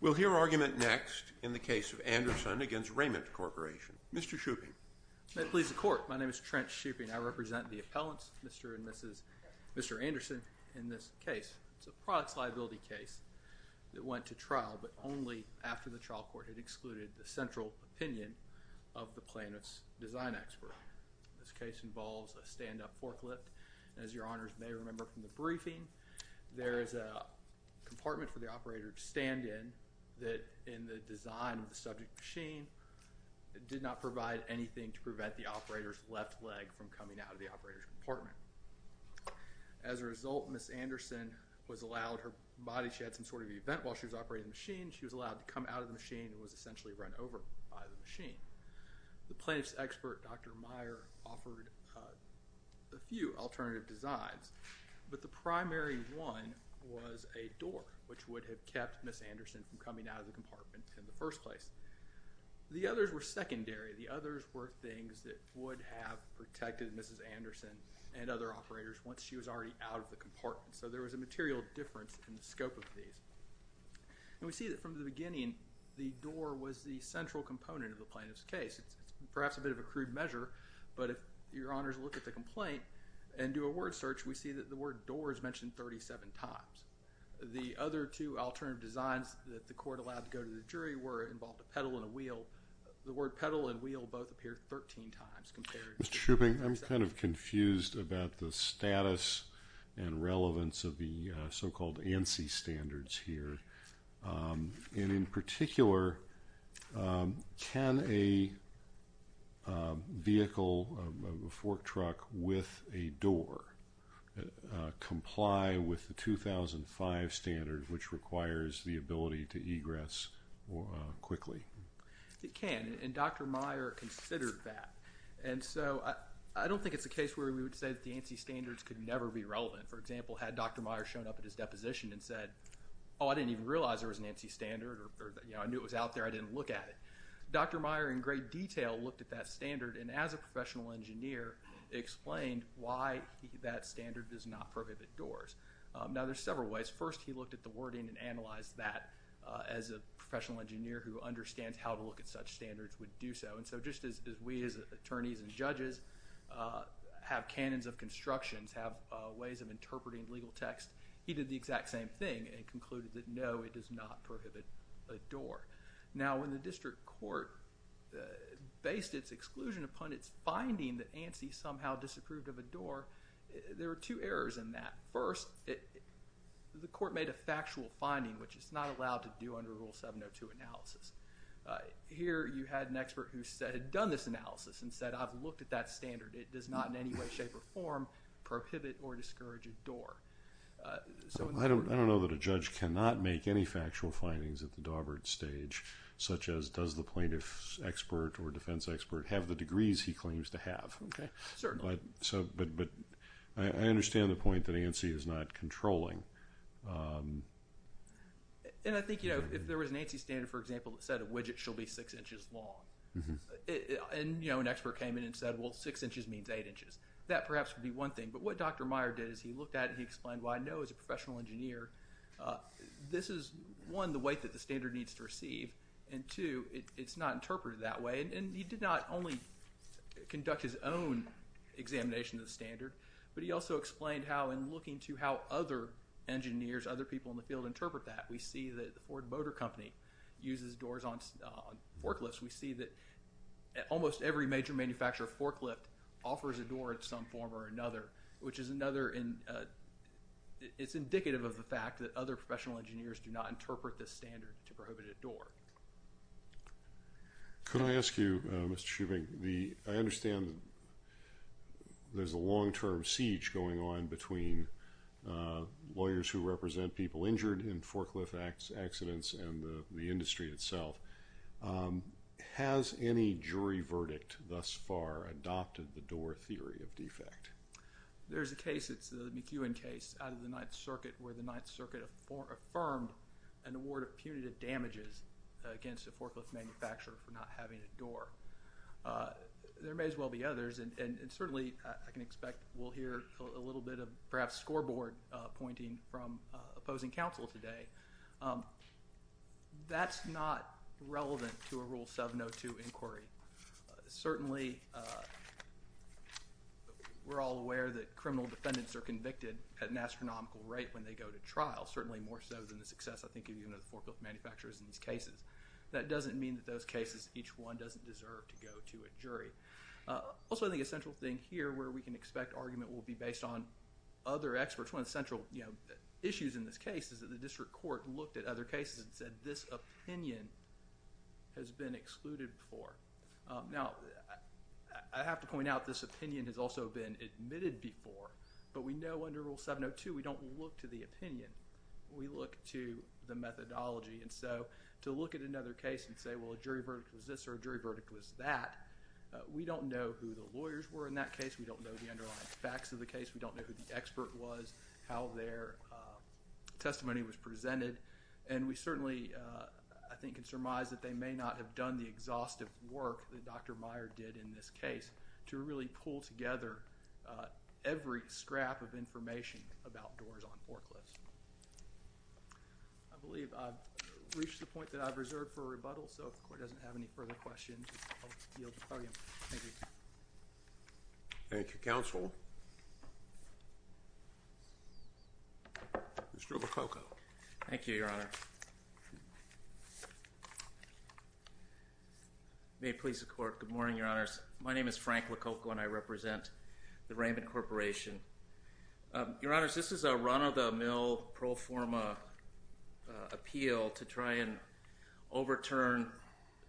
We'll hear argument next in the case of Anderson v. Raymond Corporation. Mr. Shooping. May it please the Court. My name is Trent Shooping. I represent the appellants, Mr. and Mrs. Anderson, in this case. It's a products liability case that went to trial, but only after the trial court had excluded the central opinion of the plaintiff's design expert. This case involves a stand-up forklift. As your Honors may remember from the briefing, there is a compartment for the operator to use that, in the design of the subject machine, did not provide anything to prevent the operator's left leg from coming out of the operator's compartment. As a result, Mrs. Anderson was allowed her body, she had some sort of event while she was operating the machine, she was allowed to come out of the machine and was essentially run over by the machine. The plaintiff's expert, Dr. Meyer, offered a few alternative designs, but the primary one was a door, which would have kept Mrs. Anderson from coming out of the compartment in the first place. The others were secondary. The others were things that would have protected Mrs. Anderson and other operators once she was already out of the compartment. So there was a material difference in the scope of these. And we see that from the beginning, the door was the central component of the plaintiff's case. It's perhaps a bit of a crude measure, but if your Honors look at the complaint and do a word search, we see that the word door is mentioned 37 times. The other two alternative designs that the court allowed to go to the jury were, involved a pedal and a wheel. The word pedal and wheel both appeared 13 times. Mr. Shooping, I'm kind of confused about the status and relevance of the so-called ANSI standards here. And in particular, can a vehicle, a fork truck, with a door comply with the 2005 standards, which requires the ability to egress quickly? It can, and Dr. Meyer considered that. And so I don't think it's a case where we would say that the ANSI standards could never be relevant. For example, had Dr. Meyer shown up at his deposition and said, oh, I didn't even realize there was an ANSI standard, or I knew it was out there, I didn't look at it. Dr. Meyer, in great detail, looked at that standard, and as a professional engineer, explained why that standard does not prohibit doors. Now, there's several ways. First, he looked at the wording and analyzed that as a professional engineer who understands how to look at such standards would do so. And so just as we, as attorneys and judges, have canons of constructions, have ways of interpreting legal text, he did the exact same thing and concluded that no, it does not prohibit a door. Now, when the district court based its exclusion upon its finding that ANSI somehow disapproved of a door, there were two errors in that. First, the court made a factual finding, which it's not allowed to do under Rule 702 analysis. Here, you had an expert who said, had done this analysis and said, I've looked at that standard. It does not in any way, shape, or form prohibit or discourage a door. I don't know that a judge cannot make any factual findings at the Daubert stage, such as does the plaintiff's expert or defense expert have the degrees he claims to have. Certainly. But I understand the point that ANSI is not controlling. And I think, you know, if there was an ANSI standard, for example, that said a widget shall be six inches long, and, you know, an expert came in and said, well, six inches means eight inches. That perhaps would be one thing. But what Dr. Meyer did is he looked at it and he explained, well, I know as a professional engineer, this is, one, the weight that the standard needs to receive, and two, it's not interpreted that way. And he did not only conduct his own examination of the standard, but he also explained how looking to how other engineers, other people in the field interpret that. We see that the Ford Motor Company uses doors on forklifts. We see that almost every major manufacturer of forklift offers a door in some form or another, which is another, it's indicative of the fact that other professional engineers do not interpret this standard to prohibit a door. Could I ask you, Mr. Shoeving, I understand there's a long-term siege going on between lawyers who represent people injured in forklift accidents and the industry itself. Has any jury verdict thus far adopted the door theory of defect? There's a case, it's the McEwen case, out of the Ninth Circuit, where the Ninth Circuit affirmed an award of punitive damages against a forklift manufacturer for not having a door. There may as well be others, and certainly I can expect we'll hear a little bit of perhaps scoreboard pointing from opposing counsel today. That's not relevant to a Rule 702 inquiry. Certainly, we're all aware that criminal defendants are convicted at an astronomical rate when they go to trial, certainly more so than the success, I think, of even those forklift manufacturers in these cases. That doesn't mean that those cases, each one doesn't deserve to go to a jury. Also, I think a central thing here where we can expect argument will be based on other experts. One of the central issues in this case is that the district court looked at other cases and said this opinion has been excluded before. Now, I have to point out this opinion has also been admitted before, but we know under Rule 702, we don't look to the opinion. We look to the methodology. To look at another case and say, well, a jury verdict was this or a jury verdict was that, we don't know who the lawyers were in that case. We don't know the underlying facts of the case. We don't know who the expert was, how their testimony was presented. We certainly, I think, can surmise that they may not have done the exhaustive work that every scrap of information about doors on forklifts. I believe I've reached the point that I've reserved for rebuttal, so if the Court doesn't have any further questions, I'll yield the podium. Thank you. Thank you, Counsel. Mr. Lococo. Thank you, Your Honor. May it please the Court. Good morning, Your Honors. My name is Frank Lococo, and I represent the Raymond Corporation. Your Honors, this is a run-of-the-mill pro forma appeal to try and overturn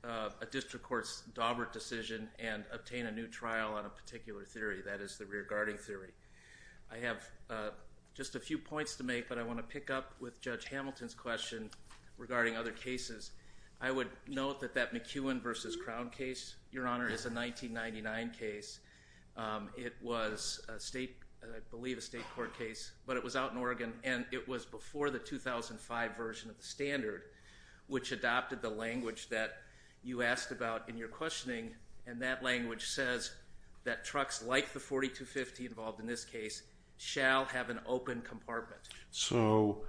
a district court's Daubert decision and obtain a new trial on a particular theory. That is the rear-guarding theory. I have just a few points to make, but I want to pick up with Judge Hamilton's question regarding other cases. I would note that that McEwen v. Crown case, Your Honor, is a 1999 case. It was, I believe, a state court case, but it was out in Oregon, and it was before the 2005 version of the standard, which adopted the language that you asked about in your questioning, and that language says that trucks like the 4250 involved in this case shall have an open compartment. So,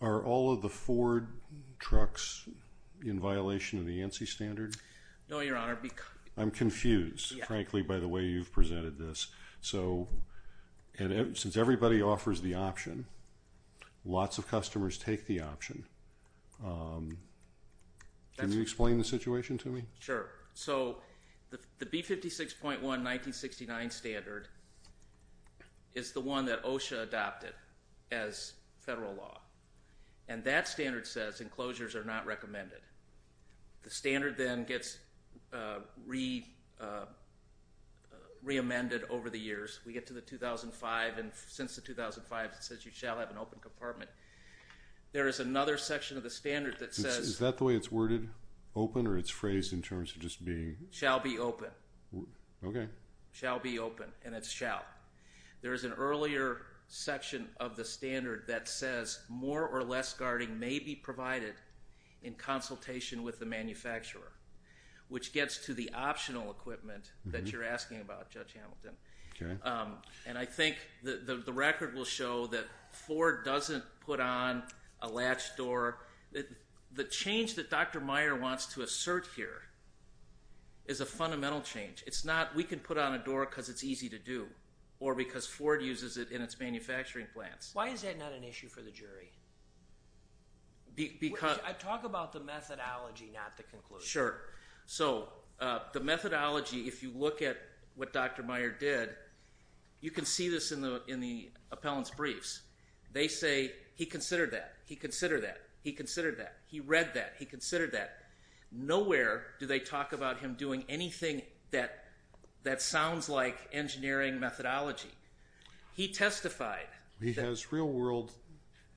are all of the Ford trucks in violation of the ANSI standard? No, Your Honor. I'm confused, frankly, by the way you've presented this. So, since everybody offers the option, lots of customers take the option. Can you explain the situation to me? Sure. So, the B56.1, 1969 standard is the one that OSHA adopted as federal law, and that standard says enclosures are not recommended. The standard then gets re-amended over the years. We get to the 2005, and since the 2005, it says you shall have an open compartment. There is another section of the standard that says... Shall be open. Okay. Shall be open, and it's shall. There is an earlier section of the standard that says more or less guarding may be provided in consultation with the manufacturer, which gets to the optional equipment that you're asking about, Judge Hamilton. Okay. And I think the record will show that Ford doesn't put on a latch door. The change that Dr. Meyer wants to assert here is a fundamental change. It's not, we can put on a door because it's easy to do, or because Ford uses it in its manufacturing plants. Why is that not an issue for the jury? Because... Talk about the methodology, not the conclusion. Sure. So, the methodology, if you look at what Dr. Meyer did, you can see this in the appellant's briefs. They say, he considered that, he considered that, he considered that, he read that, he considered that. Nowhere do they talk about him doing anything that sounds like engineering methodology. He testified... He has real-world...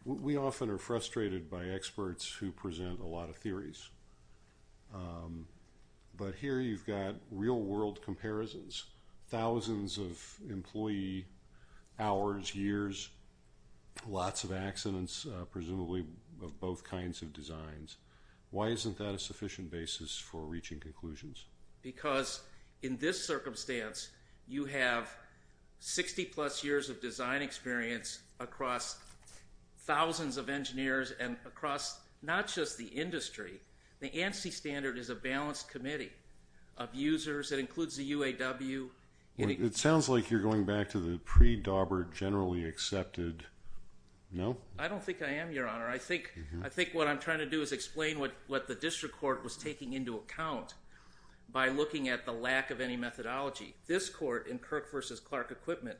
We often are frustrated by experts who present a lot of theories. But here you've got real-world comparisons. Thousands of employee hours, years, lots of accidents, presumably of both kinds of designs. Why isn't that a sufficient basis for reaching conclusions? Because in this circumstance, you have 60-plus years of design experience across thousands of engineers and across not just the industry. The ANSI standard is a balanced committee of users. It includes the UAW. It sounds like you're going back to the pre-Daubert generally accepted... No? I don't think I am, Your Honor. I think what I'm trying to do is explain what the district court was taking into account by looking at the lack of any methodology. This court in Kirk v. Clark Equipment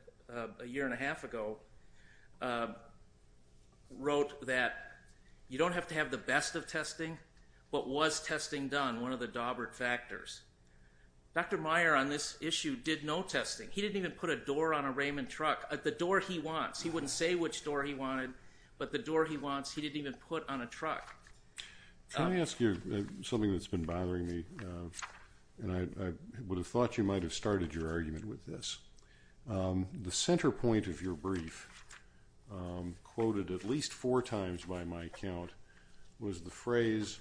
a year and a half ago wrote that you don't have to have the best of testing, but was testing done one of the Daubert factors? Dr. Meyer on this issue did no testing. He didn't even put a door on a Raymond truck, the door he wants. He wouldn't say which door he wanted, but the door he wants, he didn't even put on a truck. Can I ask you something that's been bothering me? I would have thought you might have started your argument with this. The center point of your brief, quoted at least four times by my account, was the phrase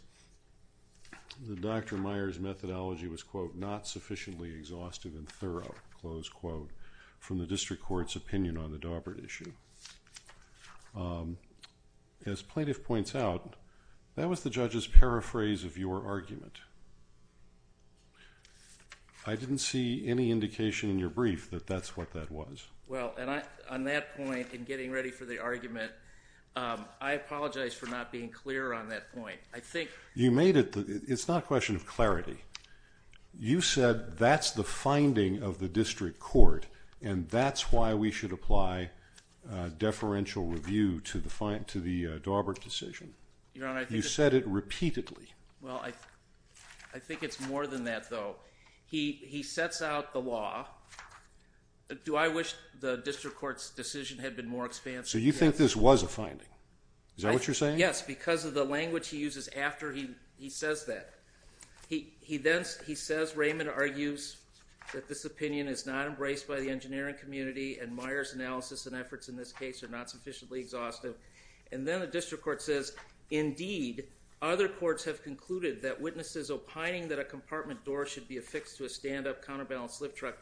that Dr. Meyer's methodology was, quote, not sufficiently exhaustive and thorough, close quote, from the district court's opinion on the Daubert issue. As plaintiff points out, that was the judge's paraphrase of your argument. I didn't see any indication in your brief that that's what that was. Well, on that point, in getting ready for the argument, I apologize for not being clear on that point. You made it. It's not a question of clarity. You said that's the finding of the district court, and that's why we should apply deferential review to the Daubert decision. You said it repeatedly. Well, I think it's more than that, though. He sets out the law. Do I wish the district court's decision had been more expansive? So you think this was a finding? Is that what you're saying? Yes, because of the language he uses after he says that. He says Raymond argues that this opinion is not embraced by the engineering community and Meyers' analysis and efforts in this case are not sufficiently exhaustive. And then the district court says, indeed, other courts have concluded that witnesses opining that a compartment door should be affixed to a stand-up counterbalance lift truck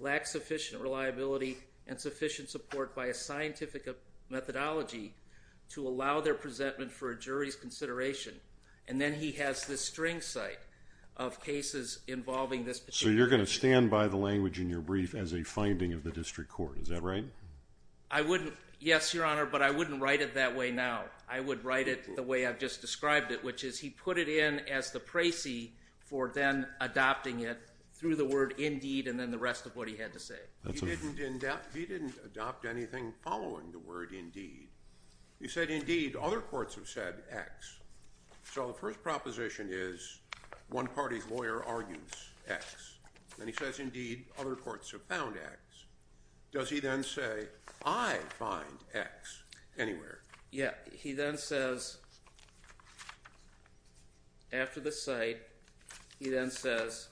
lack sufficient reliability and sufficient support by a scientific methodology to allow their presentment for a jury's consideration. And then he has this string site of cases involving this particular issue. So you're going to stand by the language in your brief as a finding of the district court. Is that right? I wouldn't. Yes, Your Honor, but I wouldn't write it that way now. I would write it the way I've just described it, which is he put it in as the praisee for then adopting it through the word indeed and then the rest of what he had to say. He didn't adopt anything following the word indeed. He said, indeed, other courts have said X. So the first proposition is one party's lawyer argues X. And he says, indeed, other courts have found X. Does he then say, I find X anywhere? Yeah. He then says, after the site, he then says,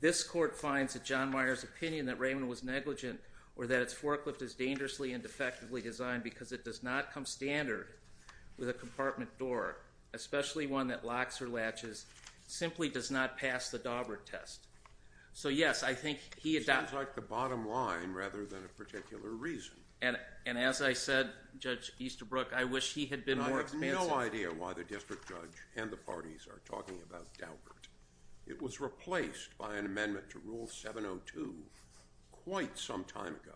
this court finds that John Meyer's opinion that Raymond was negligent or that its forklift is dangerously and defectively designed because it does not come standard with a compartment door, especially one that locks or latches, simply does not pass the Daubert test. So yes, I think he adopted it. Sounds like the bottom line rather than a particular reason. And as I said, Judge Easterbrook, I wish he had been more expansive. I have no idea why the district judge and the parties are talking about Daubert. It was replaced by an amendment to Rule 702 quite some time ago.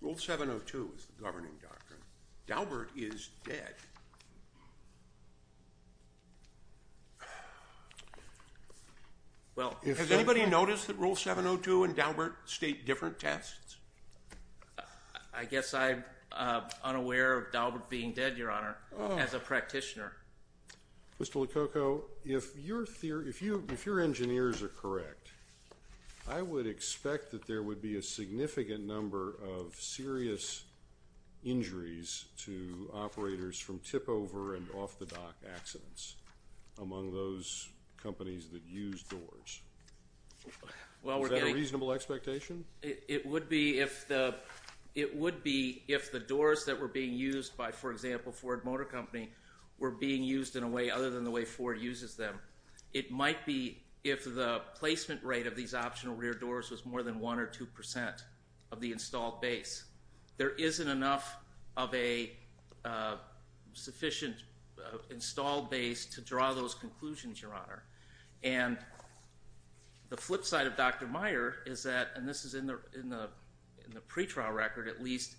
Rule 702 is the governing doctrine. Daubert is dead. Well, has anybody noticed that Rule 702 and Daubert state different tests? I guess I'm unaware of Daubert being dead, Your Honor, as a practitioner. Mr. LoCocco, if your engineers are correct, I would expect that there would be a significant number of serious injuries to operators from tip-over and off-the-dock accidents among those companies that use doors. Is that a reasonable expectation? It would be if the doors that were being used by, for example, Ford Motor Company were being used in a way other than the way Ford uses them. It might be if the placement rate of these optional rear doors was more than 1% or 2% of the installed base. There isn't enough of a sufficient installed base to draw those conclusions, Your Honor. And the flip side of Dr. Meyer is that, and this is in the pretrial record, at least,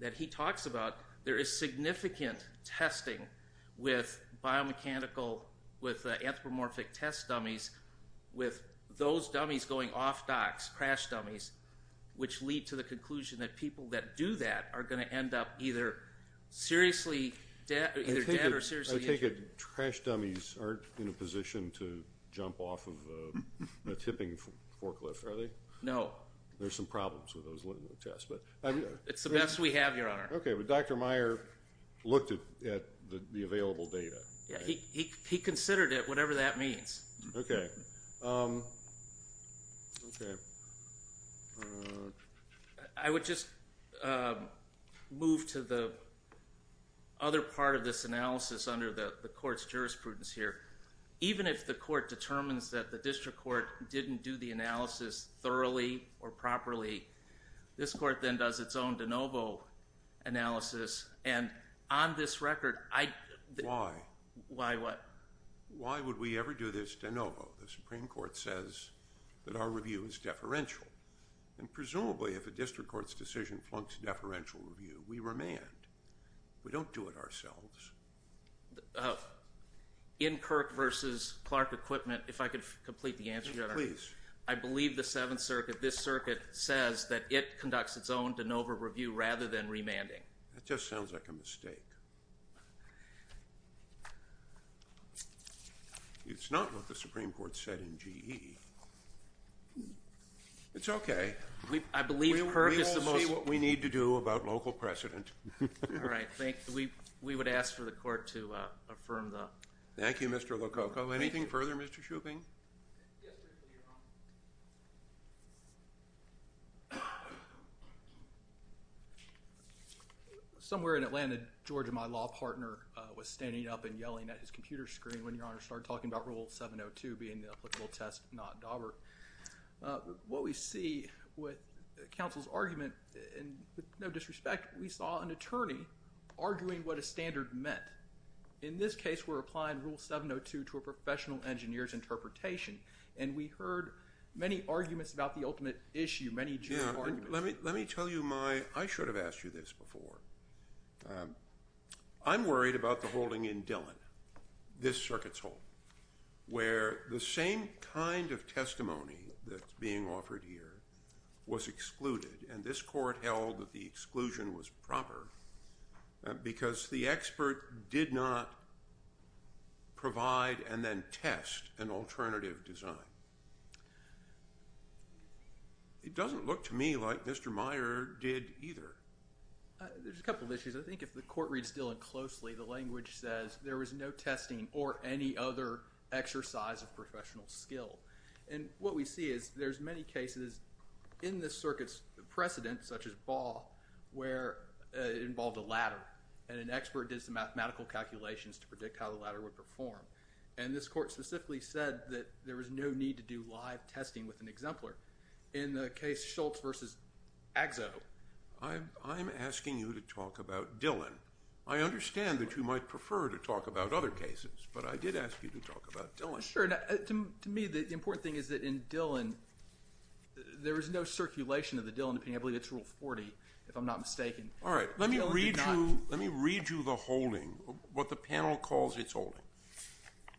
that he talks about, there is significant testing with biomechanical, with anthropomorphic test dummies, with those dummies going off-docks, crash dummies, which lead to the conclusion that people that do that are going to end up either seriously dead or seriously injured. I take it crash dummies aren't in a position to jump off of a tipping forklift, are they? No. There are some problems with those little tests. It's the best we have, Your Honor. Okay, but Dr. Meyer looked at the available data. He considered it, whatever that means. Okay. I would just move to the other part of this analysis under the court's jurisprudence here. Even if the court determines that the district court didn't do the analysis thoroughly or properly, this court then does its own de novo analysis. On this record, I… Why? Why what? Why would we ever do this de novo? The Supreme Court says that our review is deferential. Presumably, if a district court's decision plunks deferential review, we remand. We don't do it ourselves. In Kirk v. Clark Equipment, if I could complete the answer, Your Honor. Please. I believe the Seventh Circuit, this circuit, says that it conducts its own de novo review rather than remanding. That just sounds like a mistake. It's not what the Supreme Court said in GE. It's okay. I believe Kirk is the most… We will see what we need to do about local precedent. All right. We would ask for the court to affirm the… Thank you, Mr. Lococo. Anything further, Mr. Schuping? Somewhere in Atlanta, Georgia, my law partner was standing up and yelling at his computer screen when Your Honor started talking about Rule 702 being the applicable test, not Daubert. What we see with counsel's argument, and with no disrespect, we saw an attorney arguing what a standard meant. In this case, we're applying Rule 702 to a professional engineer's interpretation, and we heard many arguments about the ultimate issue, many… Let me tell you my… I should have asked you this before. I'm worried about the holding in Dillon, this circuit's hold, where the same kind of testimony that's being offered here was excluded, and this court held that the exclusion was proper because the expert did not provide and then test an alternative design. It doesn't look to me like Mr. Meyer did either. There's a couple of issues. I think if the court reads Dillon closely, the language says there was no testing or any other exercise of professional skill, and what we see is there's many cases in this circuit's precedent, such as Ball, where it involved a ladder, and an expert did some mathematical calculations to predict how the ladder would perform, and this court specifically said that there was no need to do live testing with an exemplar. In the case Schultz v. Agzo… I'm asking you to talk about Dillon. I understand that you might prefer to talk about other cases, but I did ask you to talk about Dillon. Sure. To me, the important thing is that in Dillon, there was no circulation of the Dillon, and I believe that's Rule 40, if I'm not mistaken. All right. Let me read you the holding, what the panel calls its holding.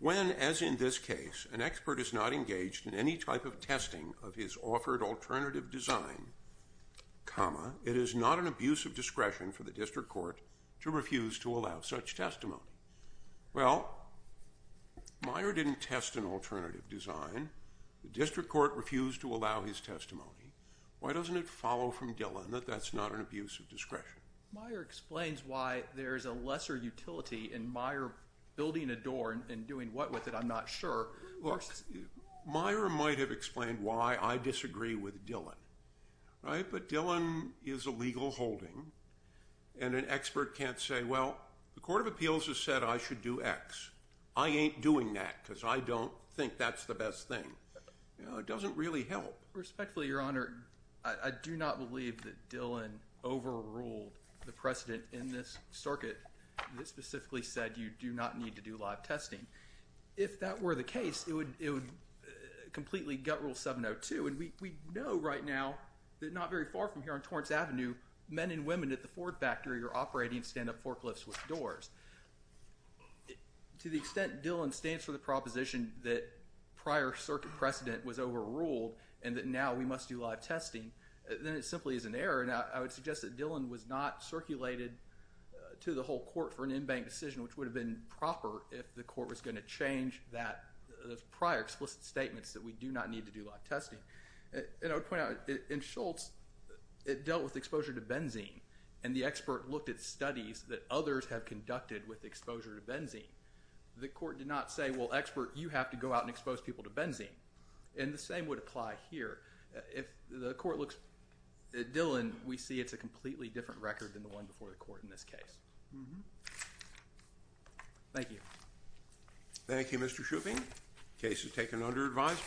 When, as in this case, an expert is not engaged in any type of testing of his offered alternative design, it is not an abuse of discretion for the district court to refuse to allow such testimony. Well, Meyer didn't test an alternative design. The district court refused to allow his testimony. Why doesn't it follow from Dillon that that's not an abuse of discretion? Meyer explains why there's a lesser utility in Meyer building a door and doing what with it. I'm not sure. Look, Meyer might have explained why I disagree with Dillon, right? But Dillon is a legal holding, and an expert can't say, well, the Court of Appeals has said I should do X. I ain't doing that because I don't think that's the best thing. It doesn't really help. Well, respectfully, Your Honor, I do not believe that Dillon overruled the precedent in this circuit that specifically said you do not need to do live testing. If that were the case, it would completely gut Rule 702, and we know right now that not very far from here on Torrance Avenue, men and women at the Ford factory are operating stand-up forklifts with doors. To the extent Dillon stands for the proposition that prior circuit precedent was overruled and that now we must do live testing, then it simply is an error, and I would suggest that Dillon was not circulated to the whole court for an in-bank decision, which would have been proper if the court was going to change those prior explicit statements that we do not need to do live testing. And I would point out, in Schultz, it dealt with exposure to benzene, and the expert looked at studies that others have conducted with exposure to benzene. The court did not say, well, expert, you have to go out and expose people to benzene, and the same would apply here. If the court looks at Dillon, we see it's a completely different record than the one before the court in this case. Thank you. Thank you, Mr. Shooping. Case is taken under advisory.